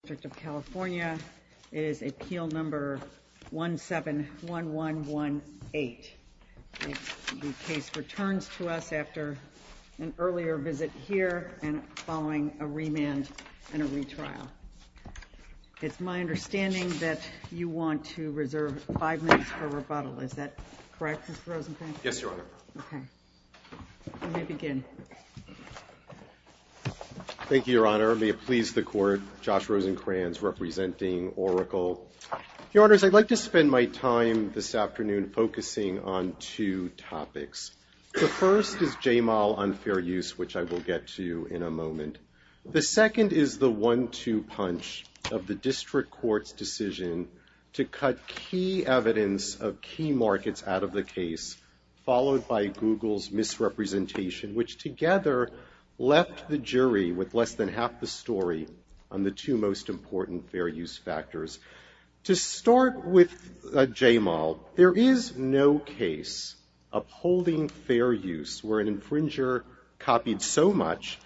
District of California. It is appeal number 171118. The case returns to us after an earlier visit here and following a remand and a retrial. It's my understanding that you want to reserve five minutes for rebuttal. Is that correct, Mr. Rosenkranz? Yes, Your Honor. Okay. Let me begin. Thank you, Your Honor. May it please the Court, Josh Rosenkranz representing Oracle. Your Honors, I'd like to spend my time this afternoon focusing on two topics. The first is J-Mal unfair use, which I will get to in a moment. The second is the one-two punch of the district court's decision to cut key evidence of key markets out of the case, followed by Google's misrepresentation, which together left the jury with less than half the story on the two most important fair use factors. To start with J-Mal, there is no case upholding fair use where an infringer copied so much,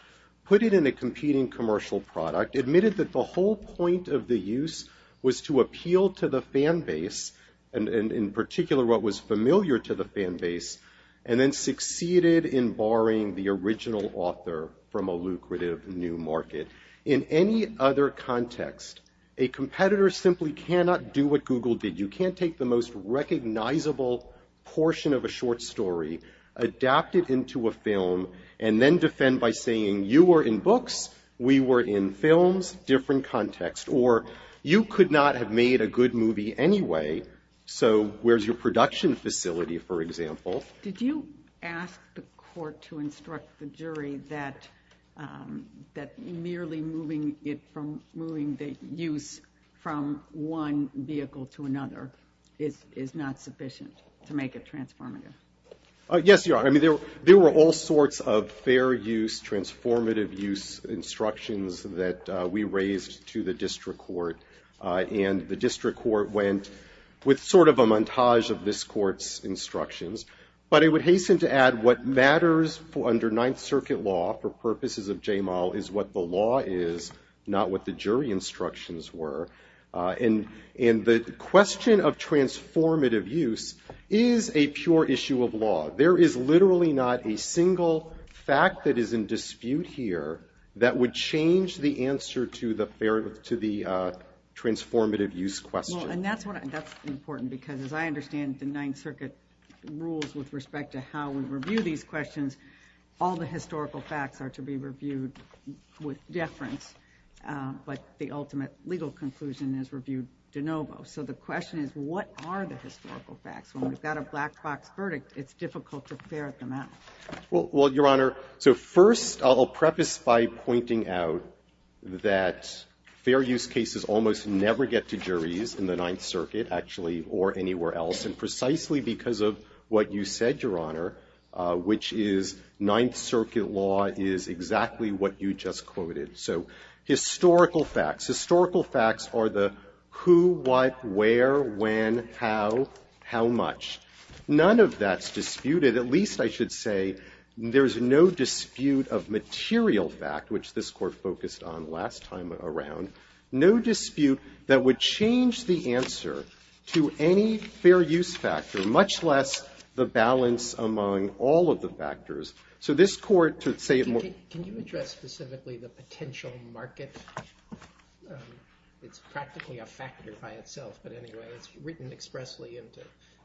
put it in a competing commercial product, admitted that the whole point of the use was to appeal to the fan base, and in particular what was familiar to the fan base, and then succeeded in barring the original author from a lucrative new market. In any other context, a competitor simply cannot do what Google did. You can't take the most recognizable portion of a short story, adapt it into a film, and then defend by saying you were in books, we were in films, different context. Or you could not have made a good movie anyway, so where's your production facility, for example? Did you ask the court to instruct the jury that merely moving the use from one vehicle to another is not sufficient to make it transformative? Yes, Your Honor. I mean, there were all sorts of fair use, transformative use instructions that we raised to the district court, and the district court went with sort of a montage of this court's instructions. But I would hasten to add what matters under Ninth Circuit law for purposes of J-Mal is what the law is, not what the jury instructions were. And the question of transformative use is a pure issue of law. There is literally not a single fact that is in dispute here that would change the answer to the transformative use question. Well, and that's important, because as I understand the Ninth Circuit rules with respect to how we review these questions, all the historical facts are to be reviewed with deference, but the ultimate legal conclusion is reviewed de novo. So the question is, what are the historical facts? When we've got a black box verdict, it's difficult to ferret them out. Well, Your Honor, so first I'll preface by pointing out that fair use cases almost never get to juries in the Ninth Circuit, actually, or anywhere else. And precisely because of what you said, Your Honor, which is Ninth Circuit law is exactly what you just quoted. So historical facts. Historical facts are the who, what, where, when, how, how much. None of that's disputed. At least, I should say, there's no dispute of material fact, which this Court focused on last time around, no dispute that would change the answer to any fair use factor, much less the balance among all of the factors. Can you address specifically the potential market? It's practically a factor by itself, but anyway, it's written expressly into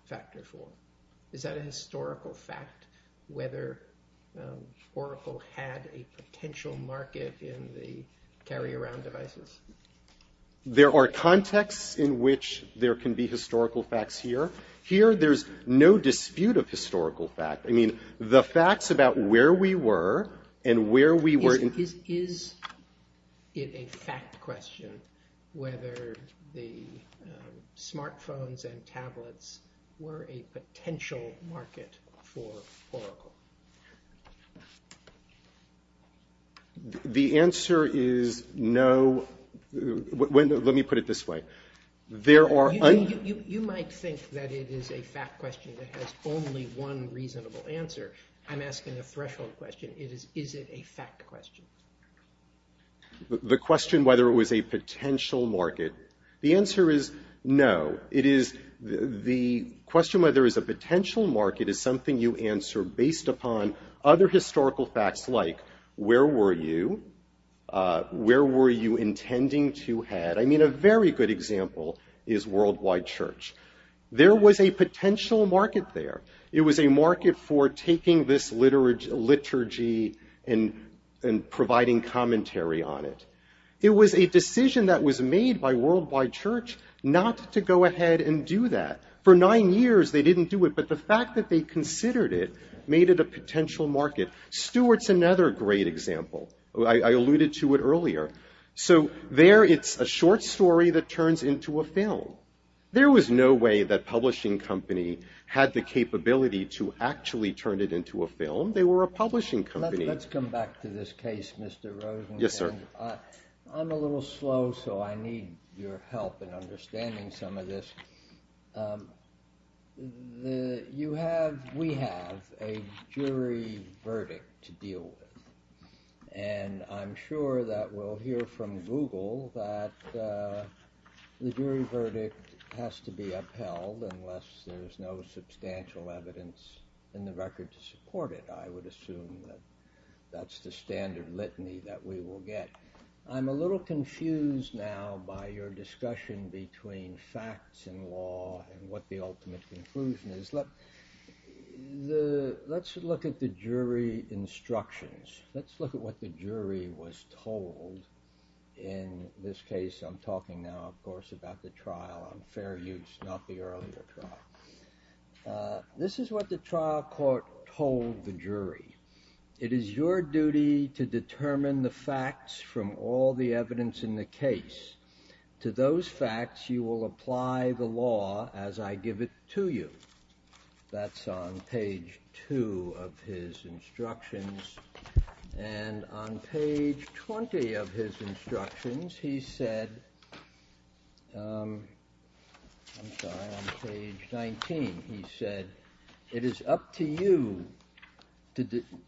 factor four. Is that a historical fact, whether Oracle had a potential market in the carry-around devices? There are contexts in which there can be historical facts here. Here, there's no dispute of historical fact. I mean, the facts about where we were and where we were in Is it a fact question whether the smartphones and tablets were a potential market for Oracle? The answer is no. Let me put it this way. You might think that it is a fact question that has only one reasonable answer. I'm asking a threshold question. Is it a fact question? The question whether it was a potential market. The answer is no. It is the question whether it was a potential market is something you answer based upon other historical facts like where were you, where were you intending to head. I mean, a very good example is Worldwide Church. There was a potential market there. It was a market for taking this liturgy and providing commentary on it. It was a decision that was made by Worldwide Church not to go ahead and do that. For nine years, they didn't do it, but the fact that they considered it made it a potential market. Stuart's another great example. I alluded to it earlier. So there it's a short story that turns into a film. There was no way that Publishing Company had the capability to actually turn it into a film. They were a publishing company. Let's come back to this case, Mr. Rosenberg. Yes, sir. I'm a little slow, so I need your help in understanding some of this. We have a jury verdict to deal with. And I'm sure that we'll hear from Google that the jury verdict has to be upheld unless there's no substantial evidence in the record to support it. I would assume that that's the standard litany that we will get. I'm a little confused now by your discussion between facts and law and what the ultimate conclusion is. Let's look at the jury instructions. Let's look at what the jury was told in this case. I'm talking now, of course, about the trial on fair use, not the earlier trial. This is what the trial court told the jury. It is your duty to determine the facts from all the evidence in the case. To those facts, you will apply the law as I give it to you. That's on page 2 of his instructions. And on page 20 of his instructions, he said, I'm sorry, on page 19, he said, it is up to you,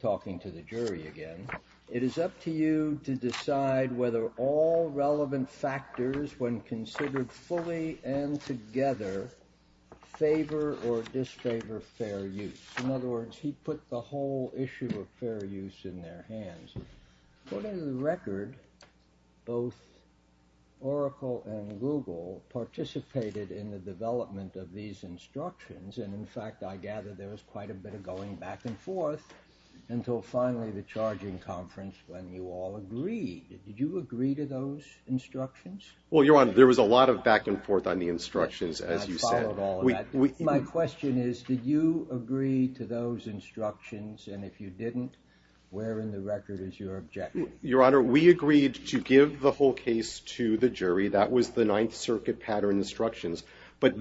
talking to the jury again, it is up to you to decide whether all relevant factors, when considered fully and together, favor or disfavor fair use. In other words, he put the whole issue of fair use in their hands. According to the record, both Oracle and Google participated in the development of these instructions. And in fact, I gather there was quite a bit of going back and forth until finally the charging conference when you all agreed. Did you agree to those instructions? Well, Your Honor, there was a lot of back and forth on the instructions, as you said. I followed all of that. My question is, did you agree to those instructions? And if you didn't, where in the record is your objection? Your Honor, we agreed to give the whole case to the jury. That was the Ninth Circuit pattern instructions. But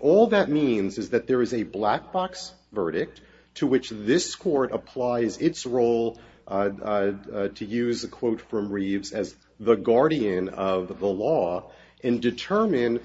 all that means is that there is a black box verdict to which this court applies its role, to use a quote from Reeves as the guardian of the law, and determine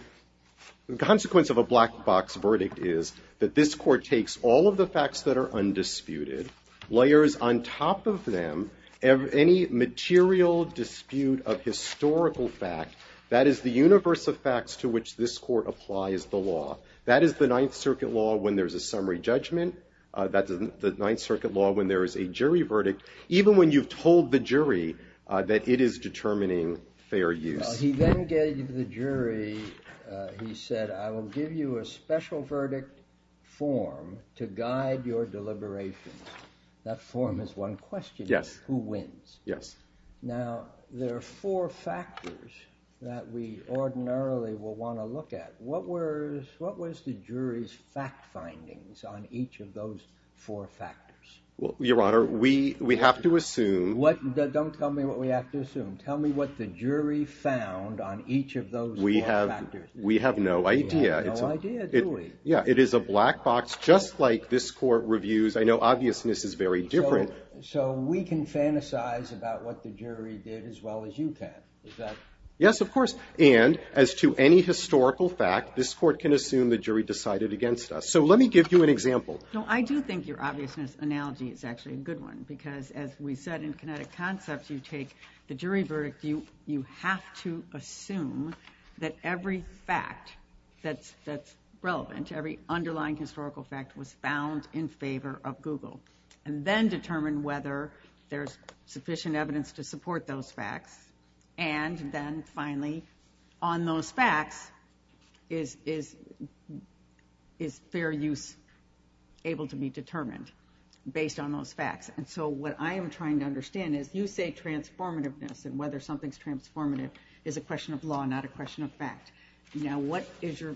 the consequence of a black box verdict is that this court takes all of the facts that are undisputed, layers on top of them any material dispute of historical fact. That is the universe of facts to which this court applies the law. That is the Ninth Circuit law when there's a summary judgment. That's the Ninth Circuit law when there is a jury verdict, even when you've told the jury that it is determining fair use. He then gave the jury, he said, I will give you a special verdict form to guide your deliberations. That form is one question. Yes. Who wins? Yes. Now, there are four factors that we ordinarily will want to look at. What was the jury's fact findings on each of those four factors? Your Honor, we have to assume... Don't tell me what we have to assume. Tell me what the jury found on each of those four factors. We have no idea. We have no idea, do we? Yeah. It is a black box just like this court reviews. I know obviousness is very different. So we can fantasize about what the jury did as well as you can. Is that... Yes, of course. And as to any historical fact, this court can assume the jury decided against us. So let me give you an example. No, I do think your obviousness analogy is actually a good one because as we said in kinetic concepts, you take the jury verdict, you have to assume that every fact that's relevant, every underlying historical fact was found in favor of Google and then determine whether there's sufficient evidence to support those facts and then finally on those facts, is fair use able to be determined based on those facts? And so what I am trying to understand is you say transformativeness and whether something's transformative is a question of law, not a question of fact. Now what is your...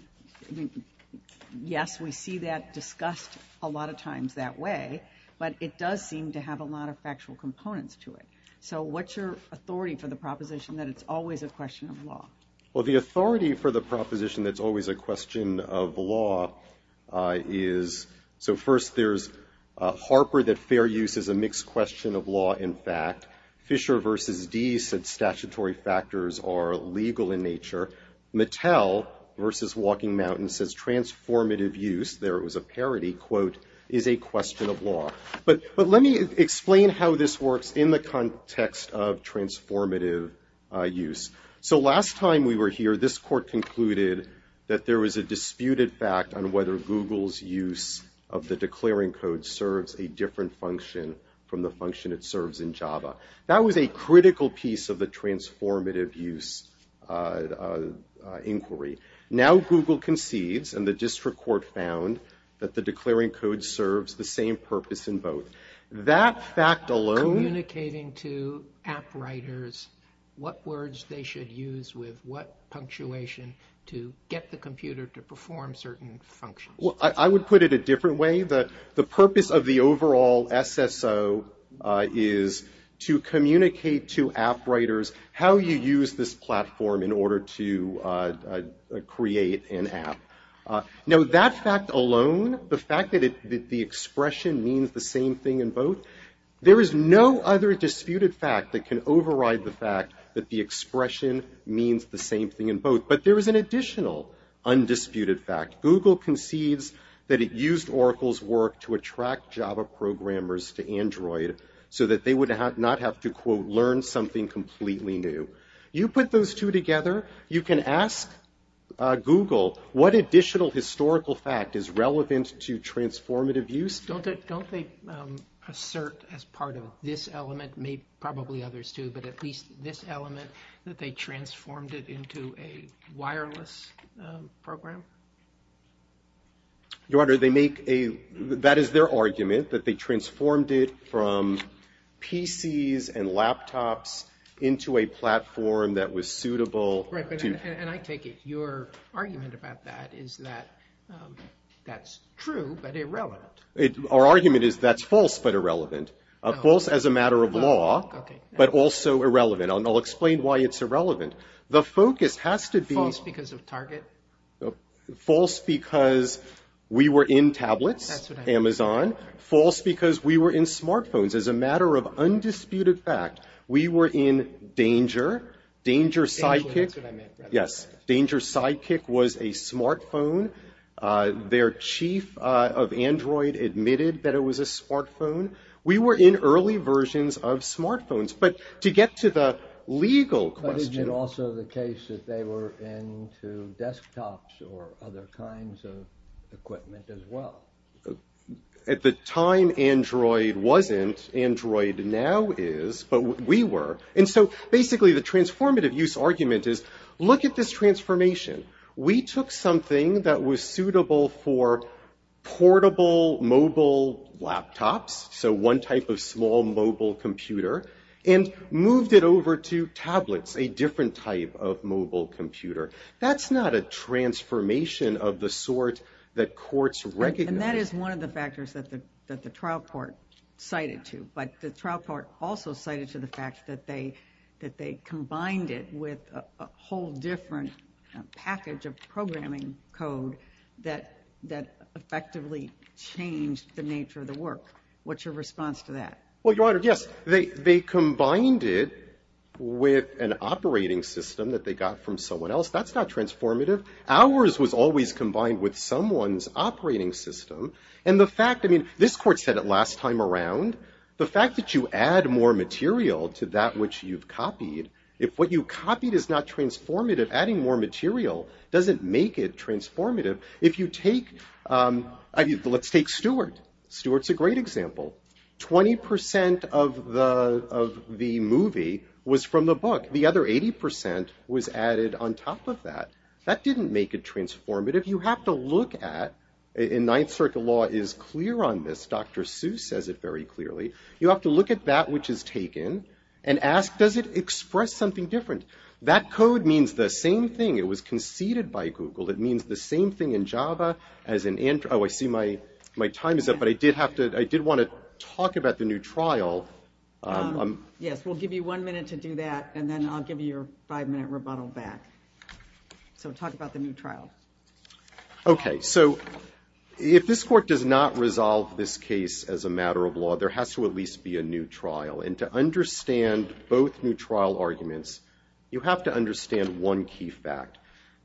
Yes, we see that discussed a lot of times that way, but it does seem to have a lot of factual components to it. So what's your authority for the proposition that it's always a question of law? Well, the authority for the proposition that's always a question of law is... So first there's Harper that fair use is a mixed question of law in fact. Fisher v. Deese said statutory factors are legal in nature. Mattel v. Walking Mountain says transformative use, there was a parody, quote, is a question of law. But let me explain how this works in the context of transformative use. So last time we were here, this court concluded that there was a disputed fact on whether Google's use of the declaring code serves a different function from the function it serves in Java. That was a critical piece of the transformative use inquiry. Now Google concedes, and the district court found, that the declaring code serves the same purpose in both. That fact alone... Communicating to app writers what words they should use with what punctuation to get the computer to perform certain functions. Well, I would put it a different way. The purpose of the overall SSO is to communicate to app writers how you use this platform in order to create an app. Now that fact alone, the fact that the expression means the same thing in both, there is no other disputed fact that can override the fact that the expression means the same thing in both. But there is an additional undisputed fact. Google concedes that it used Oracle's work to attract Java programmers to Android so that they would not have to, quote, learn something completely new. You put those two together, you can ask Google what additional historical fact is relevant to transformative use. Don't they assert as part of this element, probably others do, but at least this element, that they transformed it into a wireless program? Your Honor, that is their argument, that they transformed it from PCs and laptops into a platform that was suitable to... And I take it your argument about that is that that's true but irrelevant. Our argument is that's false but irrelevant. False as a matter of law, but also irrelevant. I'll explain why it's irrelevant. The focus has to be... False because of Target? False because we were in tablets, Amazon. False because we were in smartphones. As a matter of undisputed fact, we were in Danger. Danger Sidekick... Danger, that's what I meant. Yes, Danger Sidekick was a smartphone. Their chief of Android admitted that it was a smartphone. We were in early versions of smartphones. But to get to the legal question... But isn't it also the case that they were into desktops or other kinds of equipment as well? At the time, Android wasn't. Android now is, but we were. And so basically the transformative use argument is, look at this transformation. We took something that was suitable for portable mobile laptops, so one type of small mobile computer, and moved it over to tablets, a different type of mobile computer. That's not a transformation of the sort that courts recognize. And that is one of the factors that the trial court cited to. But the trial court also cited to the fact that they combined it with a whole different package of programming code that effectively changed the nature of the work. What's your response to that? Well, Your Honor, yes. They combined it with an operating system that they got from someone else. That's not transformative. Ours was always combined with someone's operating system. And the fact... I mean, this court said it last time around. The fact that you add more material to that which you've copied, if what you copied is not transformative, adding more material doesn't make it transformative. If you take... Let's take Stuart. Stuart's a great example. 20% of the movie was from the book. The other 80% was added on top of that. That didn't make it transformative. You have to look at... And Ninth Circuit law is clear on this. Dr. Seuss says it very clearly. You have to look at that which is taken and ask, does it express something different? That code means the same thing. It was conceded by Google. It means the same thing in Java as in... Oh, I see my time is up. But I did want to talk about the new trial. Yes, we'll give you one minute to do that and then I'll give you your five-minute rebuttal back. So talk about the new trial. Okay, so if this court does not resolve this case as a matter of law, there has to at least be a new trial. And to understand both new trial arguments, you have to understand one key fact.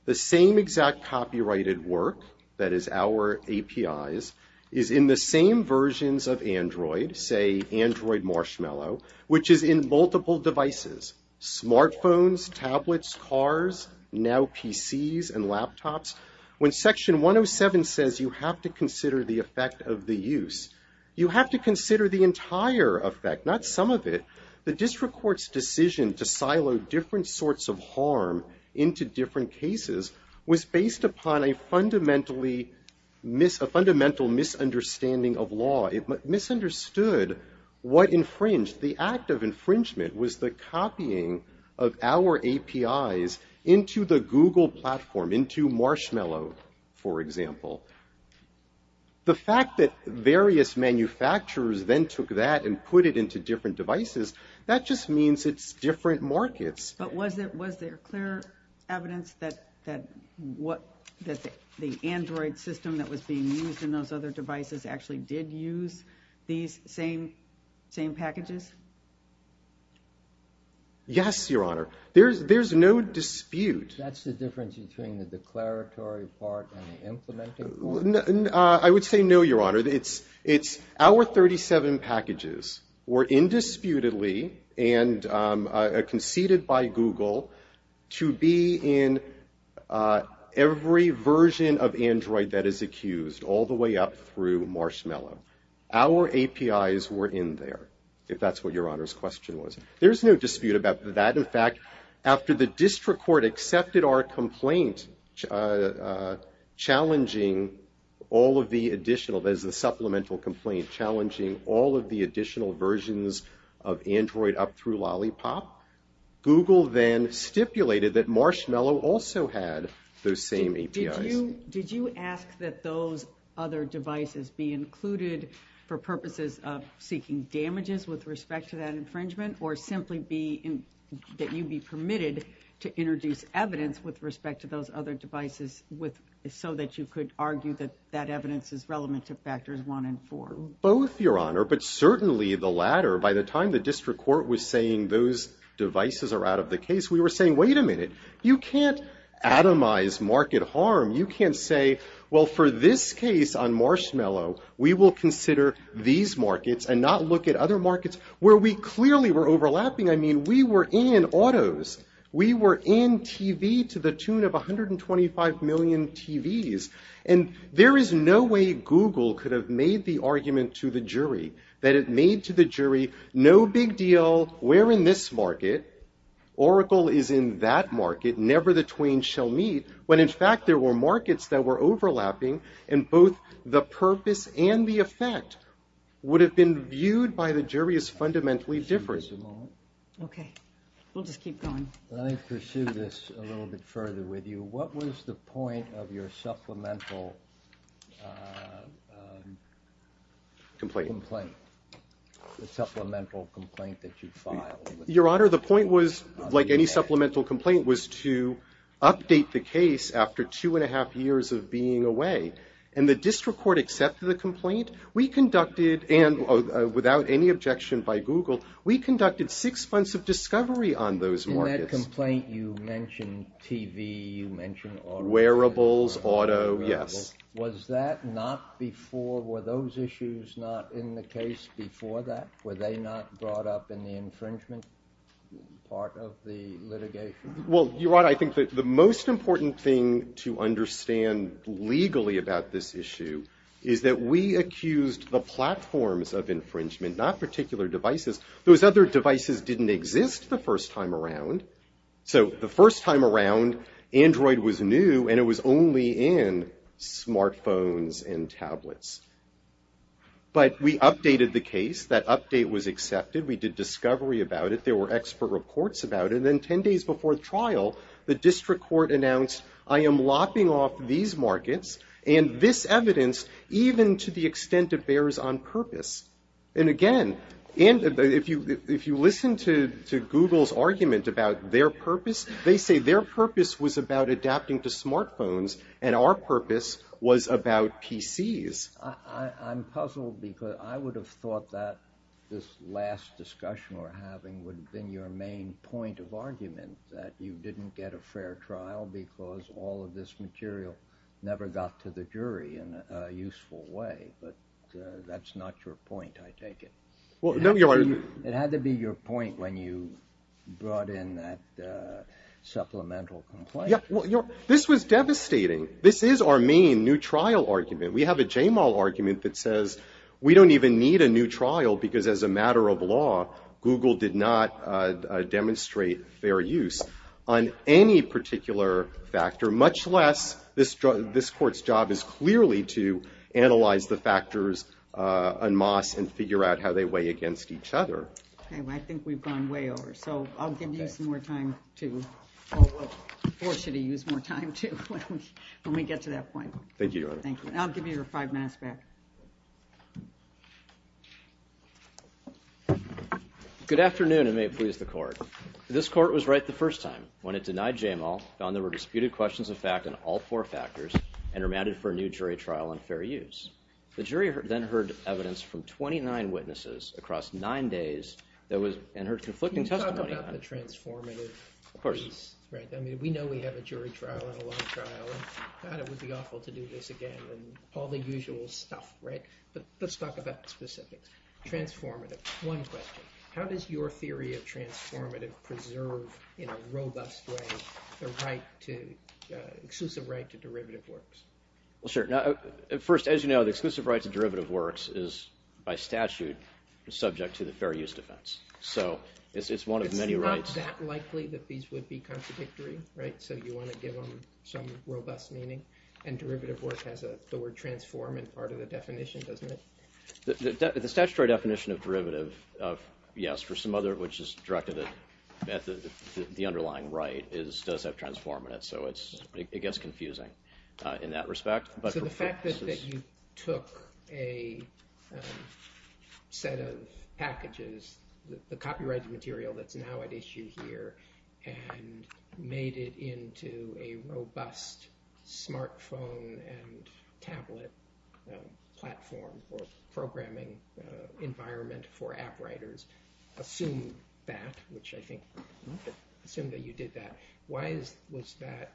The same exact copyrighted work that is our APIs is in the same versions of Android, say Android Marshmallow, which is in multiple devices. Smartphones, tablets, cars, now PCs and laptops. When Section 107 says you have to consider the effect of the use, you have to consider the entire effect, not some of it. The district court's decision to silo different sorts of harm into different cases was based upon a fundamental misunderstanding of law. It misunderstood what infringed. The act of infringement was the copying of our APIs into the Google platform, into Marshmallow, for example. The fact that various manufacturers then took that and put it into different devices, that just means it's different markets. But was there clear evidence that the Android system that was being used in those other devices actually did use these same packages? Yes, Your Honor. There's no dispute. That's the difference between the declaratory part and the implementing part? I would say no, Your Honor. It's our 37 packages were indisputably and conceded by Google to be in every version of Android that is accused, all the way up through Marshmallow. Our APIs were in there, if that's what Your Honor's question was. There's no dispute about that. In fact, after the district court accepted our complaint challenging all of the additional, that is the supplemental complaint, challenging all of the additional versions of Android up through Lollipop, Google then stipulated that Marshmallow also had those same APIs. Did you ask that those other devices be included for purposes of seeking damages with respect to that infringement, or simply that you be permitted to introduce evidence with respect to those other devices so that you could argue that that evidence is relevant to factors one and four? Both, Your Honor, but certainly the latter. By the time the district court was saying those devices are out of the case, we were saying, wait a minute, you can't atomize market harm. You can't say, well, for this case on Marshmallow, we will consider these markets and not look at other markets where we clearly were overlapping. I mean, we were in autos. We were in TV to the tune of 125 million TVs. And there is no way Google could have made the argument to the jury that it made to the jury, no big deal, we're in this market, Oracle is in that market, never the twain shall meet, when in fact there were markets that were overlapping, and both the purpose and the effect would have been viewed by the jury as fundamentally different. Okay, we'll just keep going. Let me pursue this a little bit further with you. What was the point of your supplemental complaint? The supplemental complaint that you filed? Your Honor, the point was, like any supplemental complaint, was to update the case after two and a half years of being away. And the district court accepted the complaint. We conducted, and without any objection by Google, we conducted six months of discovery on those markets. In that complaint, you mentioned TV, you mentioned autos. Wearables, auto, yes. Was that not before, were those issues not in the case before that? Were they not brought up in the infringement part of the litigation? Well, Your Honor, I think that the most important thing to understand legally about this issue is that we accused the platforms of infringement, not particular devices. Those other devices didn't exist the first time around. So the first time around, Android was new, and it was only in smartphones and tablets. But we updated the case. That update was accepted. We did discovery about it. There were expert reports about it. And then ten days before the trial, the district court announced, I am lopping off these markets and this evidence, even to the extent it bears on purpose. And again, if you listen to Google's argument about their purpose, they say their purpose was about adapting to smartphones, and our purpose was about PCs. I'm puzzled because I would have thought that this last discussion we're having would have been your main point of argument, that you didn't get a fair trial because all of this material never got to the jury in a useful way. But that's not your point, I take it. It had to be your point when you brought in that supplemental complaint. Yeah, well, this was devastating. This is our main new trial argument. We have a JMAL argument that says we don't even need a new trial because as a matter of law, Google did not demonstrate fair use on any particular factor, much less this court's job is clearly to analyze the factors en masse and figure out how they weigh against each other. Okay, well, I think we've gone way over. So I'll give you some more time to... when we get to that point. Thank you, Your Honor. Thank you, and I'll give you your five minutes back. Good afternoon, and may it please the court. This court was right the first time when it denied JMAL, found there were disputed questions of fact on all four factors, and remanded for a new jury trial on fair use. The jury then heard evidence from 29 witnesses across nine days and heard conflicting testimony... Can you talk about the transformative piece? Of course. I mean, we know we have a jury trial and a law trial, and thought it would be awful to do this again and all the usual stuff, right? But let's talk about the specifics. Transformative. One question. How does your theory of transformative preserve in a robust way the right to... exclusive right to derivative works? Well, sure. First, as you know, the exclusive right to derivative works is, by statute, subject to the fair use defense. So it's one of many rights... It's not that likely that these would be contradictory, right? So you want to give them some robust meaning? And derivative work has the word transform in part of the definition, doesn't it? The statutory definition of derivative, yes, for some other... which is directed at the underlying right, does have transform in it. So it gets confusing in that respect. So the fact that you took a set of packages, the copyrighted material that's now at issue here, and made it into a robust smartphone and tablet platform or programming environment for app writers, assume that, which I think... assume that you did that. Why is... was that...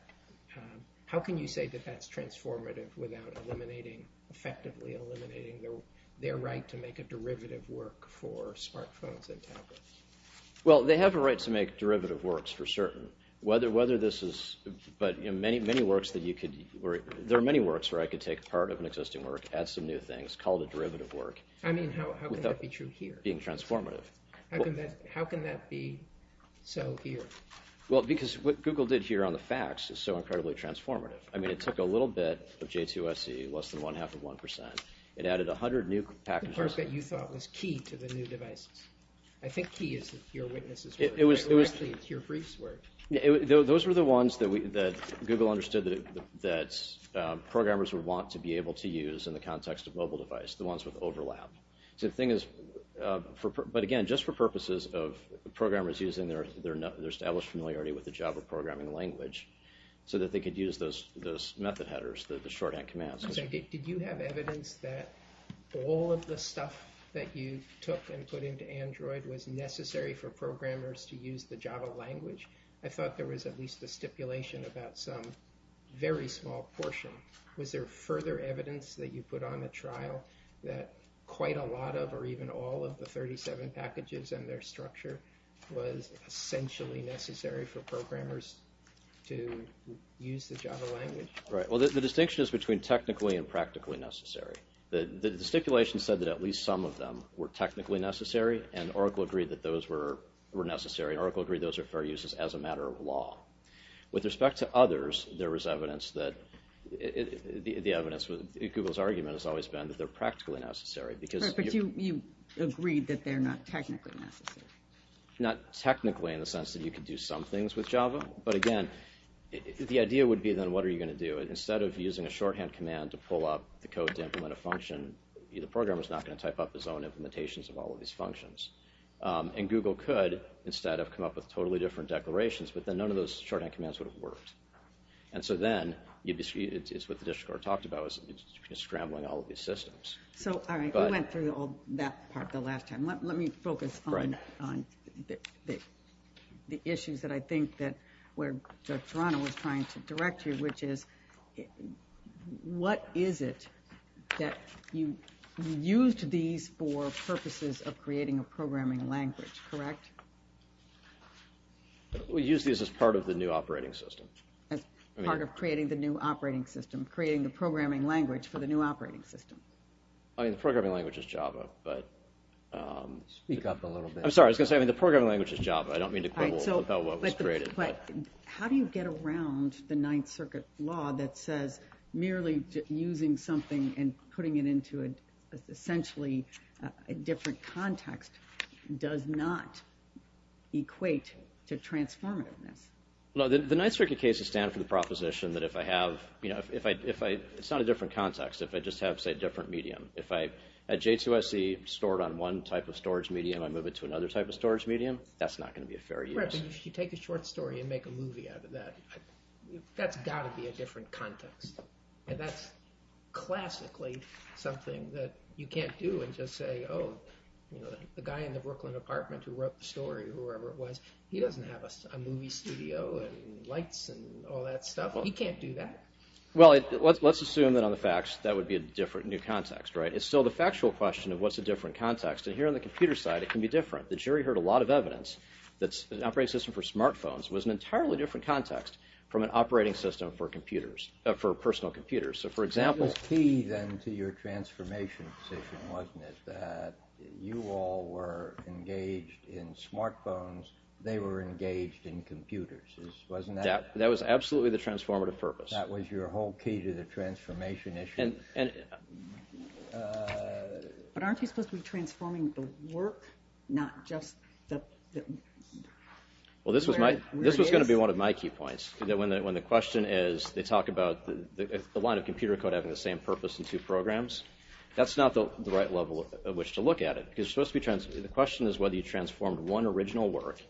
How can you say that that's transformative without eliminating... effectively eliminating their right to make a derivative work for smartphones and tablets? Well, they have a right to make derivative works for certain. Whether this is... But many works that you could... There are many works where I could take part of an existing work, add some new things, call it a derivative work. I mean, how can that be true here? Being transformative. How can that be so here? Well, because what Google did here on the facts is so incredibly transformative. I mean, it took a little bit of J2SE, less than one-half of one percent. It added 100 new packages. The part that you thought was key to the new devices. I think key is that your witnesses were. It was... It was your briefs were. Those were the ones that Google understood that programmers would want to be able to use in the context of mobile device, the ones with overlap. So the thing is... But again, just for purposes of programmers using their established familiarity with the Java programming language so that they could use those method headers, the shorthand commands. Did you have evidence that all of the stuff that you took and put into Android was necessary for programmers to use the Java language? I thought there was at least a stipulation about some very small portion. Was there further evidence that you put on the trial that quite a lot of or even all of the 37 packages and their structure was essentially necessary for programmers to use the Java language? Right. Well, the distinction is between technically and practically necessary. The stipulation said that at least some of them were technically necessary and Oracle agreed that those were necessary. Oracle agreed those are fair uses as a matter of law. With respect to others, there was evidence that... The evidence with Google's argument has always been that they're practically necessary. Right, but you agreed that they're not technically necessary. Not technically in the sense that you could do some things with Java. But again, the idea would be then what are you going to do? Instead of using a shorthand command to pull up the code to implement a function, the programmer's not going to type up his own implementations of all of these functions. And Google could, instead, have come up with totally different declarations, but then none of those shorthand commands would have worked. And so then, it's what the district court talked about, it's scrambling all of these systems. So, all right, we went through all that part the last time. Let me focus on the issues that I think that where Toronto was trying to direct you, which is what is it that you used these for purposes of creating a programming language, correct? We used these as part of the new operating system. As part of creating the new operating system, creating the programming language for the new operating system. I mean, the programming language is Java, but... Speak up a little bit. I'm sorry, I was going to say, I mean, the programming language is Java. I don't mean to quibble about what was created, but... How do you get around the Ninth Circuit law that says merely using something and putting it into essentially a different context does not equate to transformativeness? Well, the Ninth Circuit cases stand for the proposition that if I have, you know, if I... It's not a different context, if I just have, say, a different medium. If I, at J2SC, store it on one type of storage medium, I move it to another type of storage medium, that's not going to be a fair use. Right, but if you take a short story and make a movie out of that, that's got to be a different context. And that's classically something that you can't do and just say, oh, you know, the guy in the Brooklyn apartment who wrote the story, whoever it was, he doesn't have a movie studio and lights and all that stuff. He can't do that. Well, let's assume that on the facts that would be a different new context, right? It's still the factual question of what's a different context, and here on the computer side, it can be different. The jury heard a lot of evidence that an operating system for smartphones was an entirely different context from an operating system for computers, for personal computers. So, for example... That was key, then, to your transformation position, wasn't it? That you all were engaged in smartphones, they were engaged in computers. Wasn't that... That was absolutely the transformative purpose. That was your whole key to the transformation issue. And... But aren't you supposed to be transforming the work, not just the... Well, this was going to be one of my key points, that when the question is... They talk about the line of computer code having the same purpose in two programs. That's not the right level of which to look at it. The question is whether you transformed one original work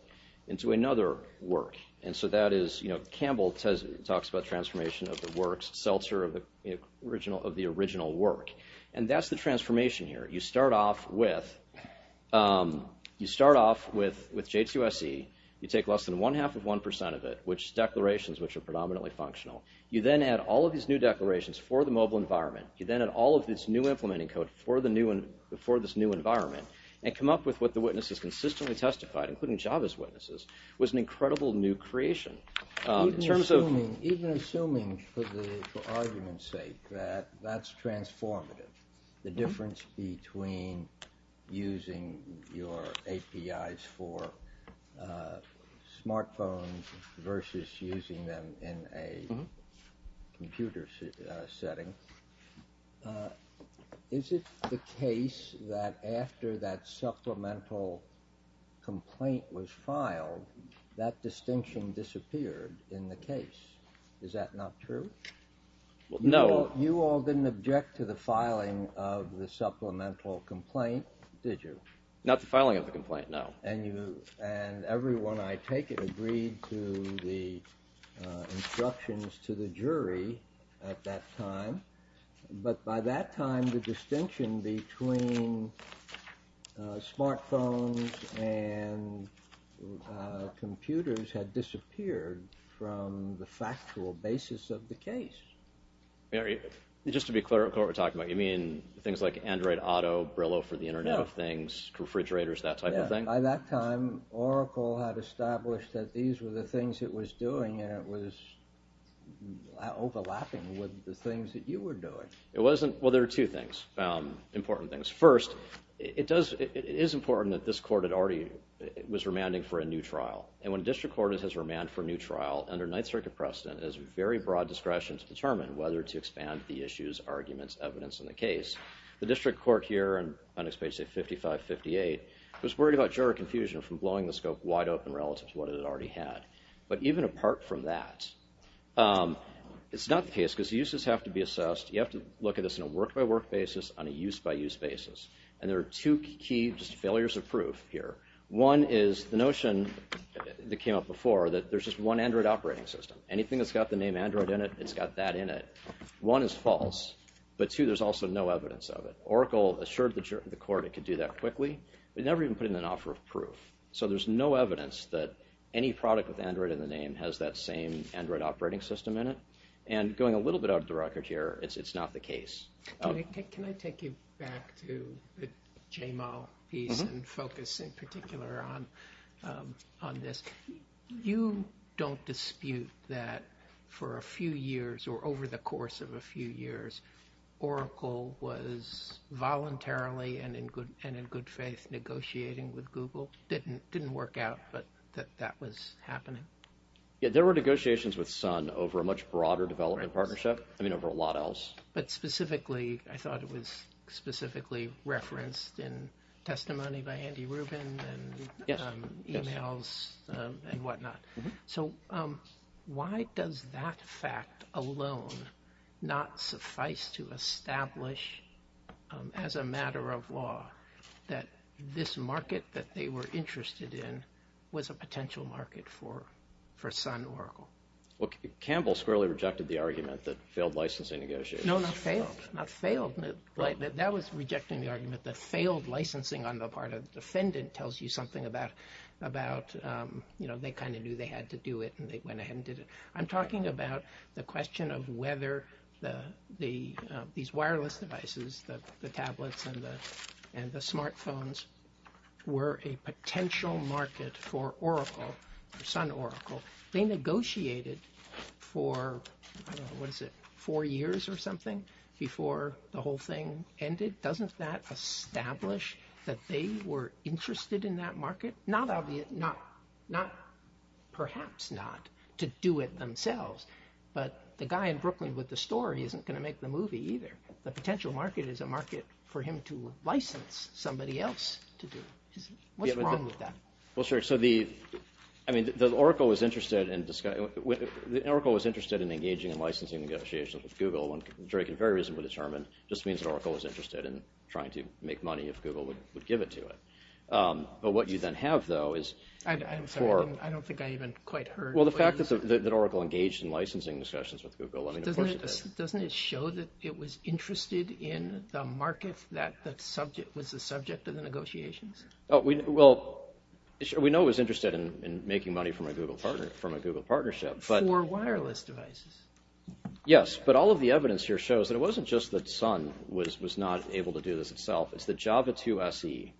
into another work. And so that is... Campbell talks about transformation of the works, Seltzer of the original work. And that's the transformation here. You start off with... You start off with J2SE. You take less than one-half of 1% of it, which is declarations which are predominantly functional. You then add all of these new declarations for the mobile environment. You then add all of this new implementing code for this new environment and come up with what the witnesses consistently testified, including Java's witnesses, was an incredible new creation. In terms of... Even assuming, for argument's sake, that that's transformative, the difference between using your APIs for smartphones versus using them in a computer setting, is it the case that after that supplemental complaint was filed, that distinction disappeared in the case? Is that not true? No. You all didn't object to the filing of the supplemental complaint, did you? Not the filing of the complaint, no. And everyone, I take it, agreed to the instructions to the jury at that time. But by that time, the distinction between smartphones and computers had disappeared from the factual basis of the case. Just to be clear of what we're talking about, you mean things like Android Auto, Brillo for the Internet of Things, refrigerators, that type of thing? By that time, Oracle had established that these were the things it was doing and it was overlapping with the things that you were doing. It wasn't... Well, there were two things, important things. First, it is important that this court had already... was remanding for a new trial. And when a district court has remanded for a new trial, under Ninth Circuit precedent, it has very broad discretion to determine whether to expand the issues, arguments, evidence in the case. The district court here on page 55-58 was worried about juror confusion from blowing the scope wide open relative to what it already had. But even apart from that, it's not the case because the uses have to be assessed. You have to look at this on a work-by-work basis, on a use-by-use basis. And there are two key failures of proof here. One is the notion that came up before that there's just one Android operating system. Anything that's got the name Android in it, it's got that in it. One is false. But two, there's also no evidence of it. Oracle assured the court it could do that quickly. They never even put in an offer of proof. So there's no evidence that any product with Android in the name has that same Android operating system in it. And going a little bit out of the record here, it's not the case. Can I take you back to the J-Mal piece and focus in particular on this? You don't dispute that for a few years Oracle was voluntarily and in good faith negotiating with Google. Didn't work out, but that was happening. Yeah, there were negotiations with Sun over a much broader development partnership, I mean, over a lot else. But specifically, I thought it was specifically referenced in testimony by Andy Rubin and emails and whatnot. So why does that fact alone not suffice to establish as a matter of law that this market that they were interested in was a potential market for Sun Oracle? Well, Campbell squarely rejected the argument that failed licensing negotiations. No, not failed. That was rejecting the argument that failed licensing on the part of the defendant tells you something about they kind of knew they had to do it and they went ahead and did it. I'm talking about the question of whether these wireless devices, the tablets and the smartphones, were a potential market for Sun Oracle. They negotiated for, I don't know, what is it, four years or something before the whole thing ended. Doesn't that establish that they were interested in that market? Not obvious, perhaps not, to do it themselves. But the guy in Brooklyn with the store, he isn't going to make the movie either. The potential market is a market for him to license somebody else to do it. What's wrong with that? Well, sir, so the Oracle was interested in engaging in licensing negotiations with Google. One can very reasonably determine, just means that Oracle was interested in trying to make money if Google would give it to it. But what you then have, though, is... I don't think I even quite heard what he... Well, the fact that Oracle engaged in licensing discussions with Google... Doesn't it show that it was interested in the market that was the subject of the negotiations? Well, we know it was interested in making money from a Google partnership. For wireless devices. Yes, but all of the evidence here shows that it wasn't just that Sun was not able to do this itself. It's that Java 2 SE,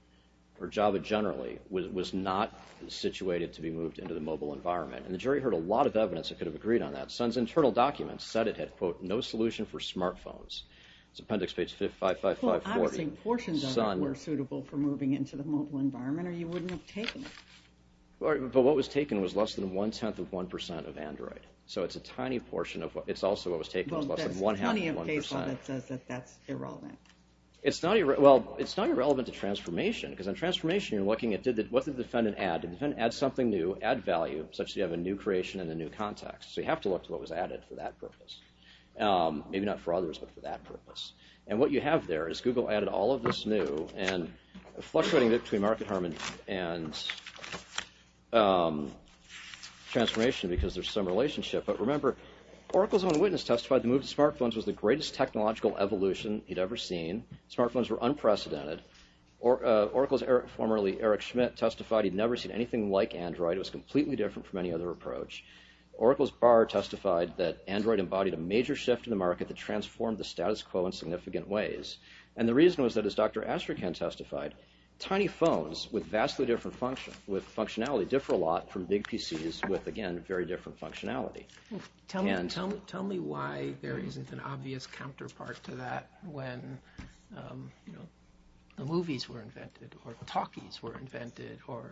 or Java generally, was not situated to be moved into the mobile environment. And the jury heard a lot of evidence that could have agreed on that. Sun's internal documents said it had, quote, no solution for smartphones. It's appendix page 55540. Well, obviously, portions of it were suitable for moving into the mobile environment, or you wouldn't have taken it. But what was taken was less than one-tenth of one percent of Android. So it's a tiny portion of what... It's also what was taken was less than one-half of one percent. Well, there's plenty of case law that says that that's irrelevant. Well, it's not irrelevant to transformation, because in transformation, you're looking at what did the defendant add. Did the defendant add something new, add value, such that you have a new creation and a new context? So you have to look to what was added for that purpose. Maybe not for others, but for that purpose. And what you have there is Google added all of this new and fluctuating between market harmony and transformation because there's some relationship. But remember, Oracle's own witness testified the move to smartphones was the greatest technological evolution he'd ever seen. Smartphones were unprecedented. Oracle's formerly Eric Schmidt testified he'd never seen anything like Android. It was completely different from any other approach. Oracle's Barr testified that Android embodied a major shift in the market that transformed the status quo in significant ways. And the reason was that, as Dr. Astrakhan testified, tiny phones with vastly different functionality differ a lot from big PCs with, again, very different functionality. Tell me why there isn't an obvious counterpart to that when the movies were invented or talkies were invented or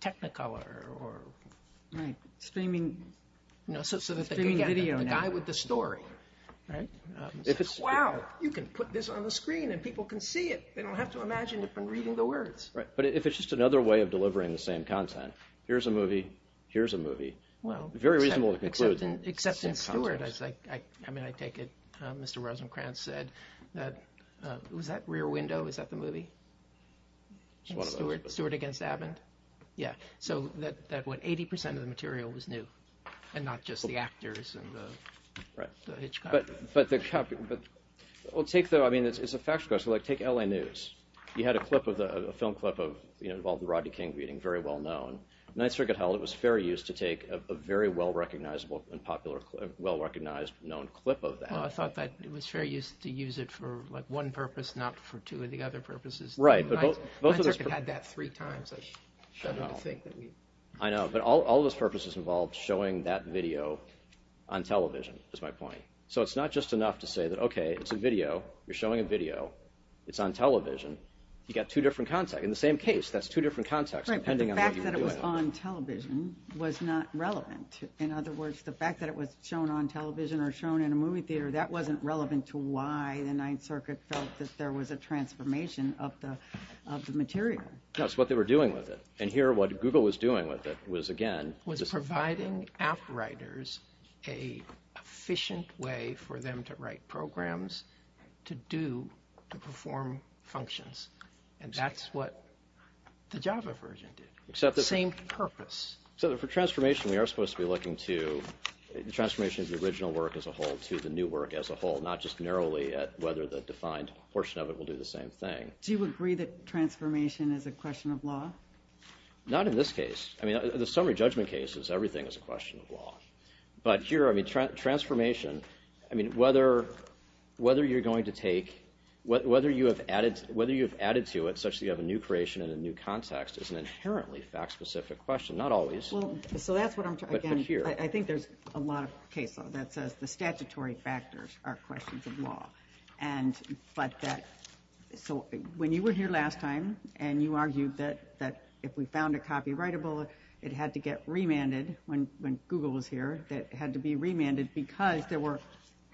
Technicolor or... Right, streaming video now. So that the guy with the story says, wow, you can put this on the screen and people can see it. They don't have to imagine it from reading the words. Right, but if it's just another way of delivering the same content, here's a movie, here's a movie. Very reasonable to conclude in the same context. Except in Stewart, I mean, I take it Mr. Rosencrantz said that... Was that Rear Window? Is that the movie? Stewart against Abbond? Yeah, so that what, 80% of the material was new and not just the actors and the hitchcock. But take the, I mean, it's a factual question. Like, take L.A. News. You had a film clip involving the Rodney King meeting, very well known. The Ninth Circuit held it was fair use to take a very well recognizable and popular, well recognized known clip of that. I thought that it was fair use to use it for one purpose, not for two of the other purposes. Right, but both of those... The Ninth Circuit had that three times. I know, but all those purposes involved showing that video on television, is my point. So it's not just enough to say that, okay, it's a video, you're showing a video, it's on television. You've got two different contexts. In the same case, that's two different contexts. Right, but the fact that it was on television was not relevant. In other words, the fact that it was shown on television or shown in a movie theater, that wasn't relevant to why the Ninth Circuit felt that there was a transformation of the material. No, it's what they were doing with it. And here, what Google was doing with it was, again... Was providing app writers an efficient way for them to write programs, to do, to perform functions. And that's what the Java version did. Except that... Same purpose. Except that for transformation, we are supposed to be looking to the transformation of the original work as a whole to the new work as a whole, not just narrowly at whether the defined portion of it will do the same thing. Do you agree that transformation is a question of law? Not in this case. I mean, the summary judgment case is everything is a question of law. But here, I mean, transformation... I mean, whether you're going to take... Whether you've added to it such that you have a new creation and a new context is an inherently fact-specific question. Not always. So that's what I'm trying to... But here... I think there's a lot of case law that says the statutory factors are questions of law. But that... So when you were here last time, and you argued that if we found a copyrightable, it had to get remanded when Google was here, that it had to be remanded because there were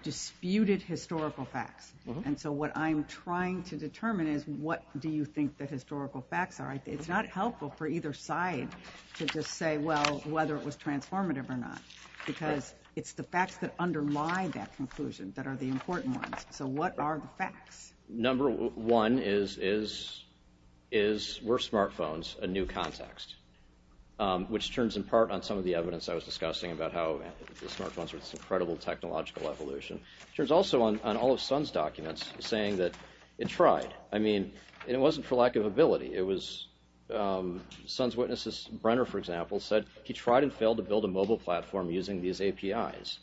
disputed historical facts. And so what I'm trying to determine is what do you think the historical facts are. It's not helpful for either side to just say, well, whether it was transformative or not, because it's the facts that underlie that conclusion that are the important ones. So what are the facts? Number one is, were smartphones a new context, which turns in part on some of the evidence I was discussing about how the smartphones were this incredible technological evolution. It turns also on all of Sun's documents, saying that it tried. I mean, and it wasn't for lack of ability. It was Sun's witnesses, Brenner, for example, said he tried and failed to build a mobile platform using these APIs.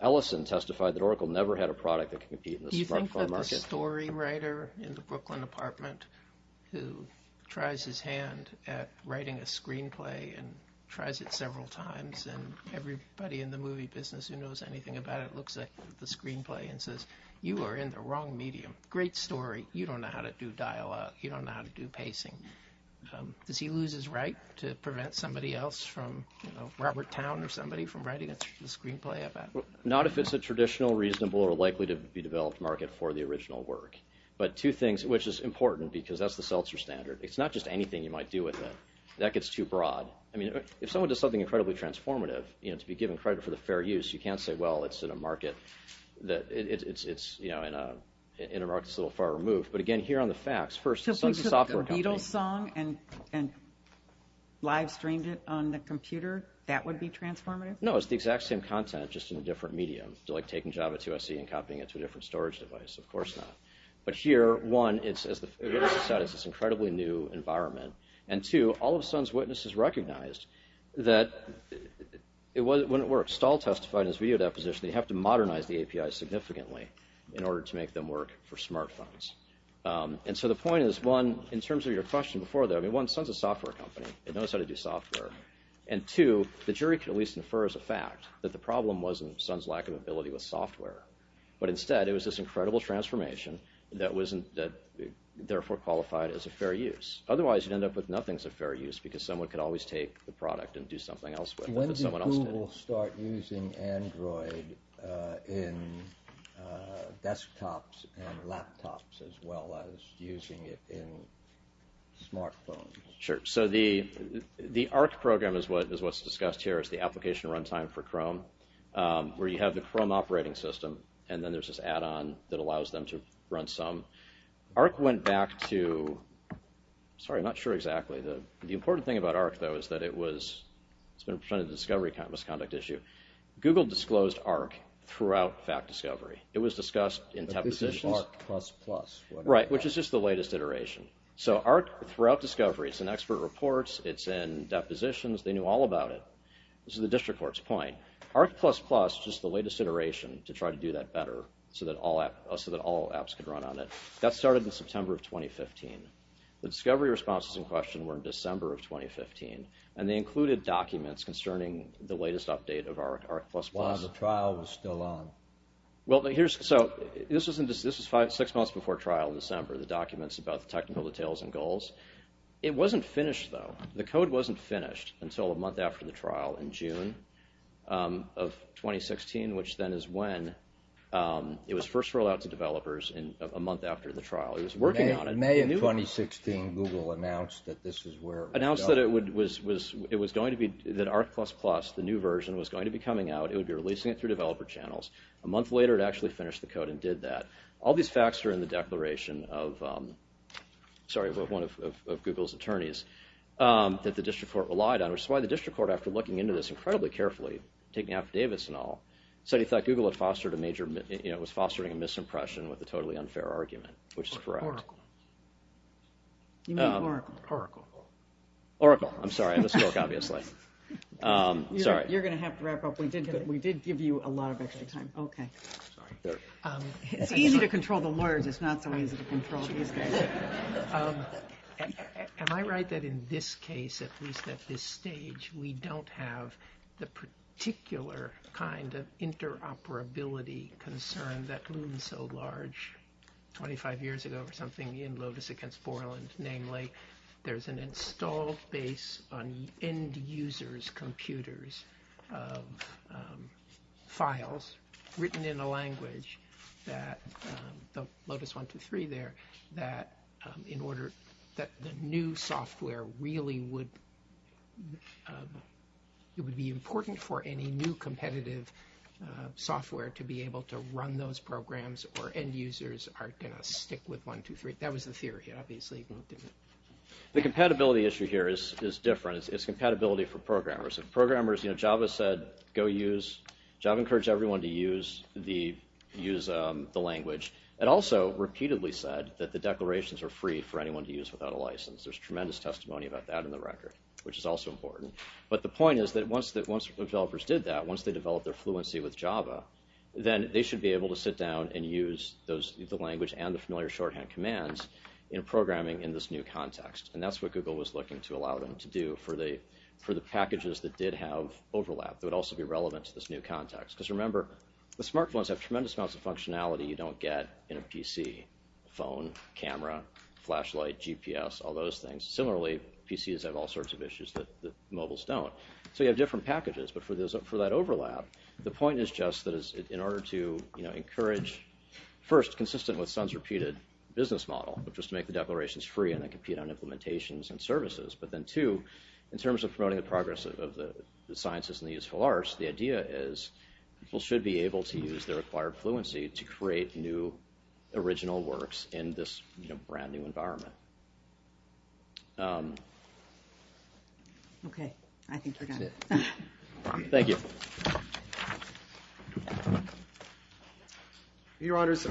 Ellison testified that Oracle never had a product that could compete in the smartphone market. Do you think that the story writer in the Brooklyn apartment who tries his hand at writing a screenplay and tries it several times, and everybody in the movie business who knows anything about it looks at the screenplay and says, you are in the wrong medium. Great story. You don't know how to do dialogue. You don't know how to do pacing. Does he lose his right to prevent somebody else from, you know, Robert Town or somebody from writing a screenplay about it? Not if it's a traditional, reasonable, or likely to be developed market for the original work. But two things, which is important, because that's the Seltzer standard. It's not just anything you might do with it. That gets too broad. I mean, if someone does something incredibly transformative, you know, to be given credit for the fair use, you can't say, well, it's in a market that, it's, you know, in a market that's a little far removed. But again, here on the facts, first, Sun's software company. So if we took the Beatles song and live-streamed it on the computer, that would be transformative? No, it's the exact same content, just in a different medium. Like taking Java 2 SE and copying it to a different storage device. Of course not. But here, one, it's, as Ellison said, it's this incredibly new environment. And two, all of Sun's witnesses recognized that it wouldn't work. Stahl testified in his video deposition that you have to modernize the API significantly in order to make them work for smartphones. And so the point is, one, in terms of your question before that, I mean, one, Sun's a software company. It knows how to do software. And two, the jury can at least infer as a fact that the problem wasn't Sun's lack of ability with software. But instead, it was this incredible transformation that therefore qualified as a fair use. Otherwise, you'd end up with nothing's a fair use because someone could always take the product and do something else with it that someone else didn't. So when did Google start using Android in desktops and laptops as well as using it in smartphones? Sure. So the ARC program is what's discussed here. It's the Application Runtime for Chrome, where you have the Chrome operating system, and then there's this add-on that allows them to run some. ARC went back to, sorry, I'm not sure exactly. The important thing about ARC, though, is that it's been presented as a discovery misconduct issue. Google disclosed ARC throughout fact discovery. It was discussed in depositions. But this is ARC++. Right, which is just the latest iteration. So ARC throughout discovery, it's in expert reports, it's in depositions. They knew all about it. This is the district court's point. ARC++, just the latest iteration to try to do that better so that all apps could run on it, that started in September of 2015. The discovery responses in question were in December of 2015, and they included documents concerning the latest update of ARC++. While the trial was still on. Well, so this was six months before trial in December, the documents about the technical details and goals. It wasn't finished, though. The code wasn't finished until a month after the trial in June of 2016, which then is when it was first rolled out to developers a month after the trial. May of 2016, Google announced that this is where it would go. Announced that it was going to be, that ARC++, the new version, was going to be coming out. It would be releasing it through developer channels. A month later, it actually finished the code and did that. All these facts are in the declaration of, sorry, one of Google's attorneys, that the district court relied on, which is why the district court, after looking into this incredibly carefully, taking after Davis and all, said he thought Google had fostered a major, you know, was fostering a misimpression with a totally unfair argument, which is correct. Oracle. You mean Oracle. Oracle. Oracle. I'm sorry, I misspoke, obviously. Sorry. You're going to have to wrap up. We did give you a lot of extra time. Okay. Sorry. It's easy to control the lawyers. It's not so easy to control these guys. Am I right that in this case, at least at this stage, we don't have the particular kind of interoperability concern that loomed so large 25 years ago or something in Lotus against Borland, there's an installed base on end-users' computers of files written in a language that Lotus 1.2.3 there, that in order that the new software really would be important for any new competitive software to be able to run those programs or end-users are going to stick with 1.2.3. That was the theory, obviously. The compatibility issue here is different. It's compatibility for programmers. If programmers, you know, Java said go use, Java encouraged everyone to use the language. It also repeatedly said that the declarations are free for anyone to use without a license. There's tremendous testimony about that in the record, which is also important. But the point is that once developers did that, once they developed their fluency with Java, then they should be able to sit down and use the language and the familiar shorthand commands in programming in this new context. And that's what Google was looking to allow them to do for the packages that did have overlap that would also be relevant to this new context. Because remember, the smartphones have tremendous amounts of functionality you don't get in a PC, phone, camera, flashlight, GPS, all those things. Similarly, PCs have all sorts of issues that mobiles don't. So you have different packages. But for that overlap, the point is just that in order to encourage, first, consistent with Sun's repeated business model, which was to make the declarations free and then compete on implementations and services. But then, two, in terms of promoting the progress of the sciences and the useful arts, the idea is people should be able to use their acquired fluency to create new original works in this brand-new environment. Okay. I think we're done. That's it. Thank you. Your Honors,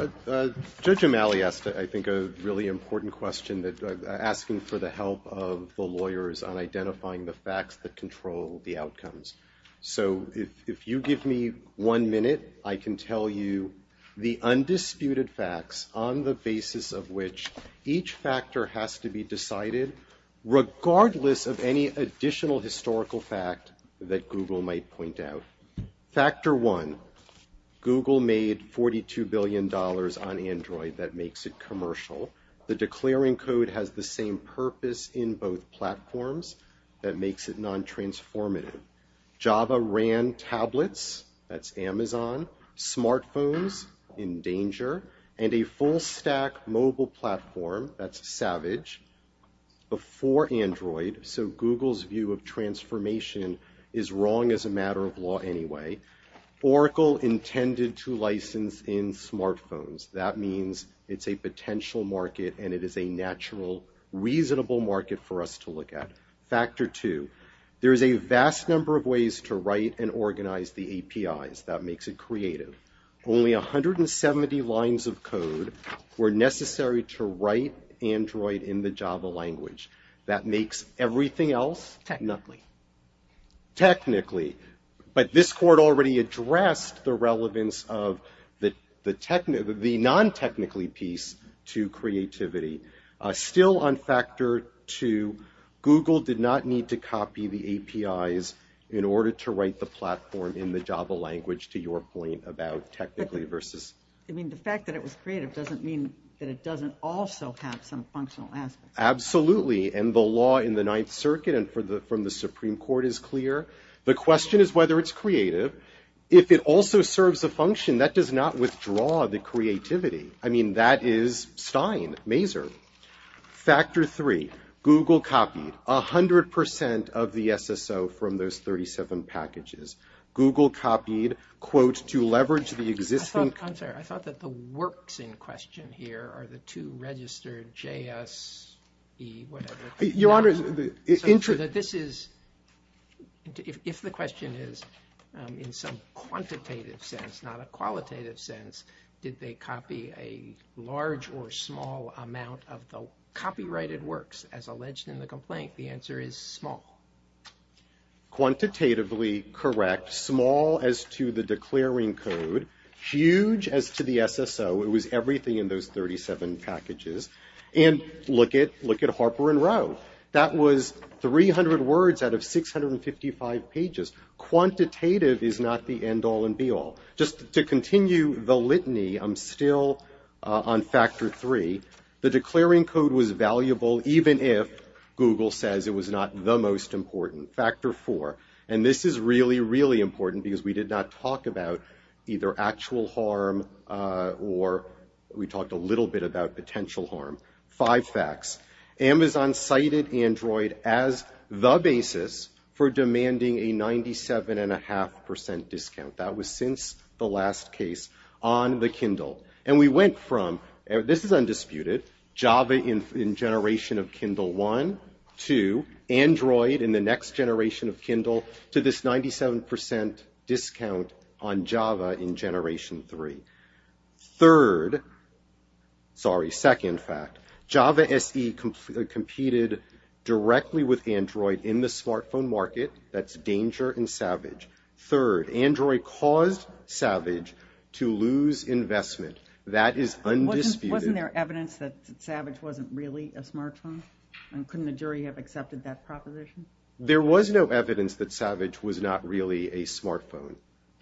Judge O'Malley asked, I think, a really important question, asking for the help of the lawyers on identifying the facts that control the outcomes. So if you give me one minute, I can tell you the undisputed facts on the basis of which each factor has to be decided, regardless of any additional historical fact that Google might point out. Factor one, Google made $42 billion on Android that makes it commercial. The declaring code has the same purpose in both platforms. That makes it non-transformative. Java ran tablets. That's Amazon. Smartphones, in danger. And a full-stack mobile platform, that's Savage, before Android. So Google's view of transformation is wrong as a matter of law anyway. Oracle intended to license in smartphones. That means it's a potential market and it is a natural, reasonable market for us to look at. Factor two, there is a vast number of ways to write and organize the APIs. That makes it creative. Only 170 lines of code were necessary to write Android in the Java language. That makes everything else? Technically. Technically. But this court already addressed the relevance of the non-technically piece to creativity. Still on factor two, Google did not need to copy the APIs in order to write the platform in the Java language to your point about technically versus. I mean, the fact that it was creative doesn't mean that it doesn't also have some functional aspects. Absolutely, and the law in the Ninth Circuit and from the Supreme Court is clear. The question is whether it's creative. If it also serves a function, that does not withdraw the creativity. I mean, that is Stein, Mazur. Factor three, Google copied 100% of the SSO from those 37 packages. Google copied, quote, to leverage the existing. I'm sorry. I thought that the works in question here are the two registered JSE, whatever. Your Honor. So that this is, if the question is in some quantitative sense, not a qualitative sense, did they copy a large or small amount of the copyrighted works as alleged in the complaint? The answer is small. Quantitatively correct. Small as to the declaring code. Huge as to the SSO. It was everything in those 37 packages. And look at Harper and Rowe. That was 300 words out of 655 pages. Quantitative is not the end all and be all. Just to continue the litany, I'm still on factor three. The declaring code was valuable even if Google says it was not the most important. Factor four. And this is really, really important because we did not talk about either actual harm or we talked a little bit about potential harm. Five facts. Amazon cited Android as the basis for demanding a 97.5% discount. That was since the last case on the Kindle. And we went from, this is undisputed, Java in generation of Kindle one, two, Android in the next generation of Kindle, to this 97% discount on Java in generation three. Third, sorry, second fact. Java SE competed directly with Android in the smartphone market. That's danger and savage. Third, Android caused Savage to lose investment. That is undisputed. Wasn't there evidence that Savage wasn't really a smartphone? Couldn't the jury have accepted that proposition? There was no evidence that Savage was not really a smartphone.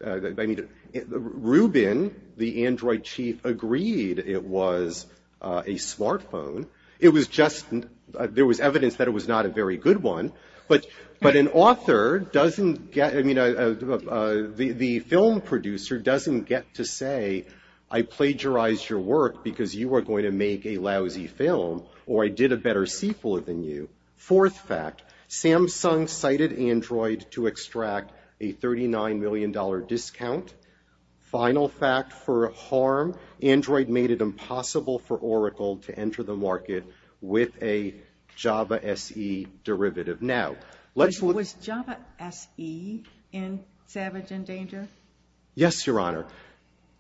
I mean, Rubin, the Android chief, agreed it was a smartphone. It was just, there was evidence that it was not a very good one. But an author doesn't get, I mean, the film producer doesn't get to say, I plagiarized your work because you were going to make a lousy film or I did a better sequel than you. Fourth fact, Samsung cited Android to extract a $39 million discount. Final fact for harm, Android made it impossible for Oracle to enter the market with a Java SE derivative. Now, let's look. Was Java SE in Savage in Danger? Yes, Your Honor.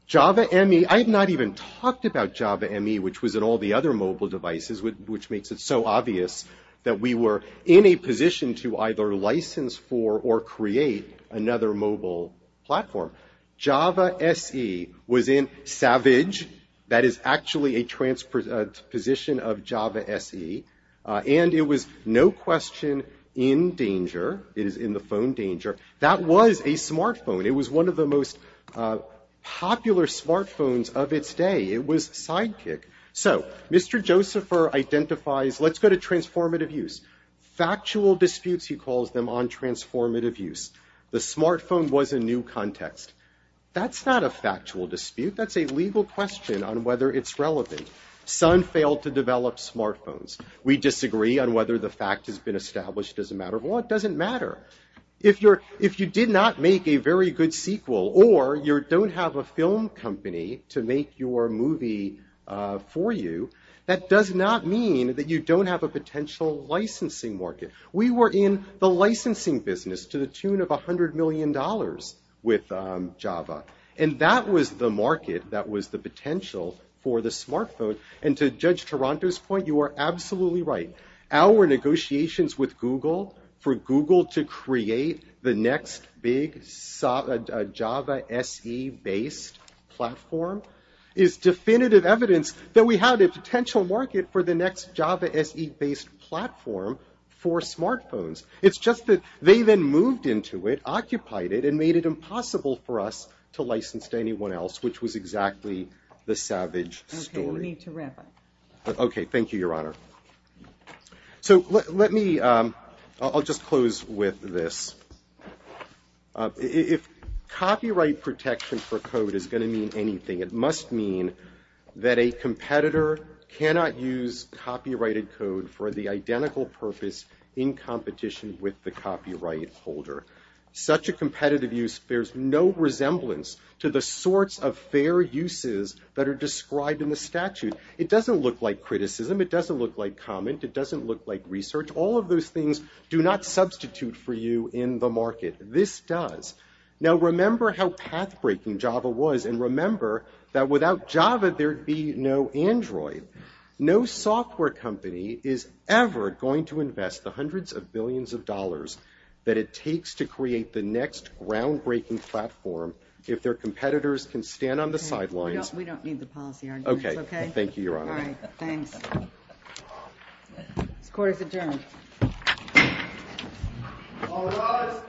Java ME, I have not even talked about Java ME, which was in all the other mobile devices, which makes it so obvious that we were in a position to either license for or create another mobile platform. Java SE was in Savage. That is actually a transposition of Java SE. And it was no question in Danger. It is in the phone Danger. That was a smartphone. It was one of the most popular smartphones of its day. It was Sidekick. So, Mr. Josepher identifies, let's go to transformative use. Factual disputes, he calls them, on transformative use. The smartphone was a new context. That's not a factual dispute. That's a legal question on whether it's relevant. Sun failed to develop smartphones. We disagree on whether the fact has been established as a matter of law. It doesn't matter. If you did not make a very good sequel or you don't have a film company to make your movie for you, that does not mean that you don't have a potential licensing market. We were in the licensing business to the tune of $100 million with Java. And that was the market that was the potential for the smartphone. And to Judge Taranto's point, you are absolutely right. Our negotiations with Google for Google to create the next big Java SE-based platform is definitive evidence that we had a potential market for the next Java SE-based platform for smartphones. It's just that they then moved into it, occupied it, and made it impossible for us to license to anyone else, which was exactly the savage story. Okay, we need to wrap up. Okay, thank you, Your Honor. So let me, I'll just close with this. If copyright protection for code is going to mean anything, it must mean that a competitor cannot use copyrighted code for the identical purpose in competition with the copyright holder. Such a competitive use bears no resemblance to the sorts of fair uses that are described in the statute. It doesn't look like criticism. It doesn't look like comment. It doesn't look like research. All of those things do not substitute for you in the market. This does. Now, remember how path-breaking Java was, and remember that without Java, there'd be no Android. No software company is ever going to invest the hundreds of billions of dollars that it takes to create the next ground-breaking platform if their competitors can stand on the sidelines. We don't need the policy arguments, okay? Okay, thank you, Your Honor. All right, thanks. This court is adjourned. All rise.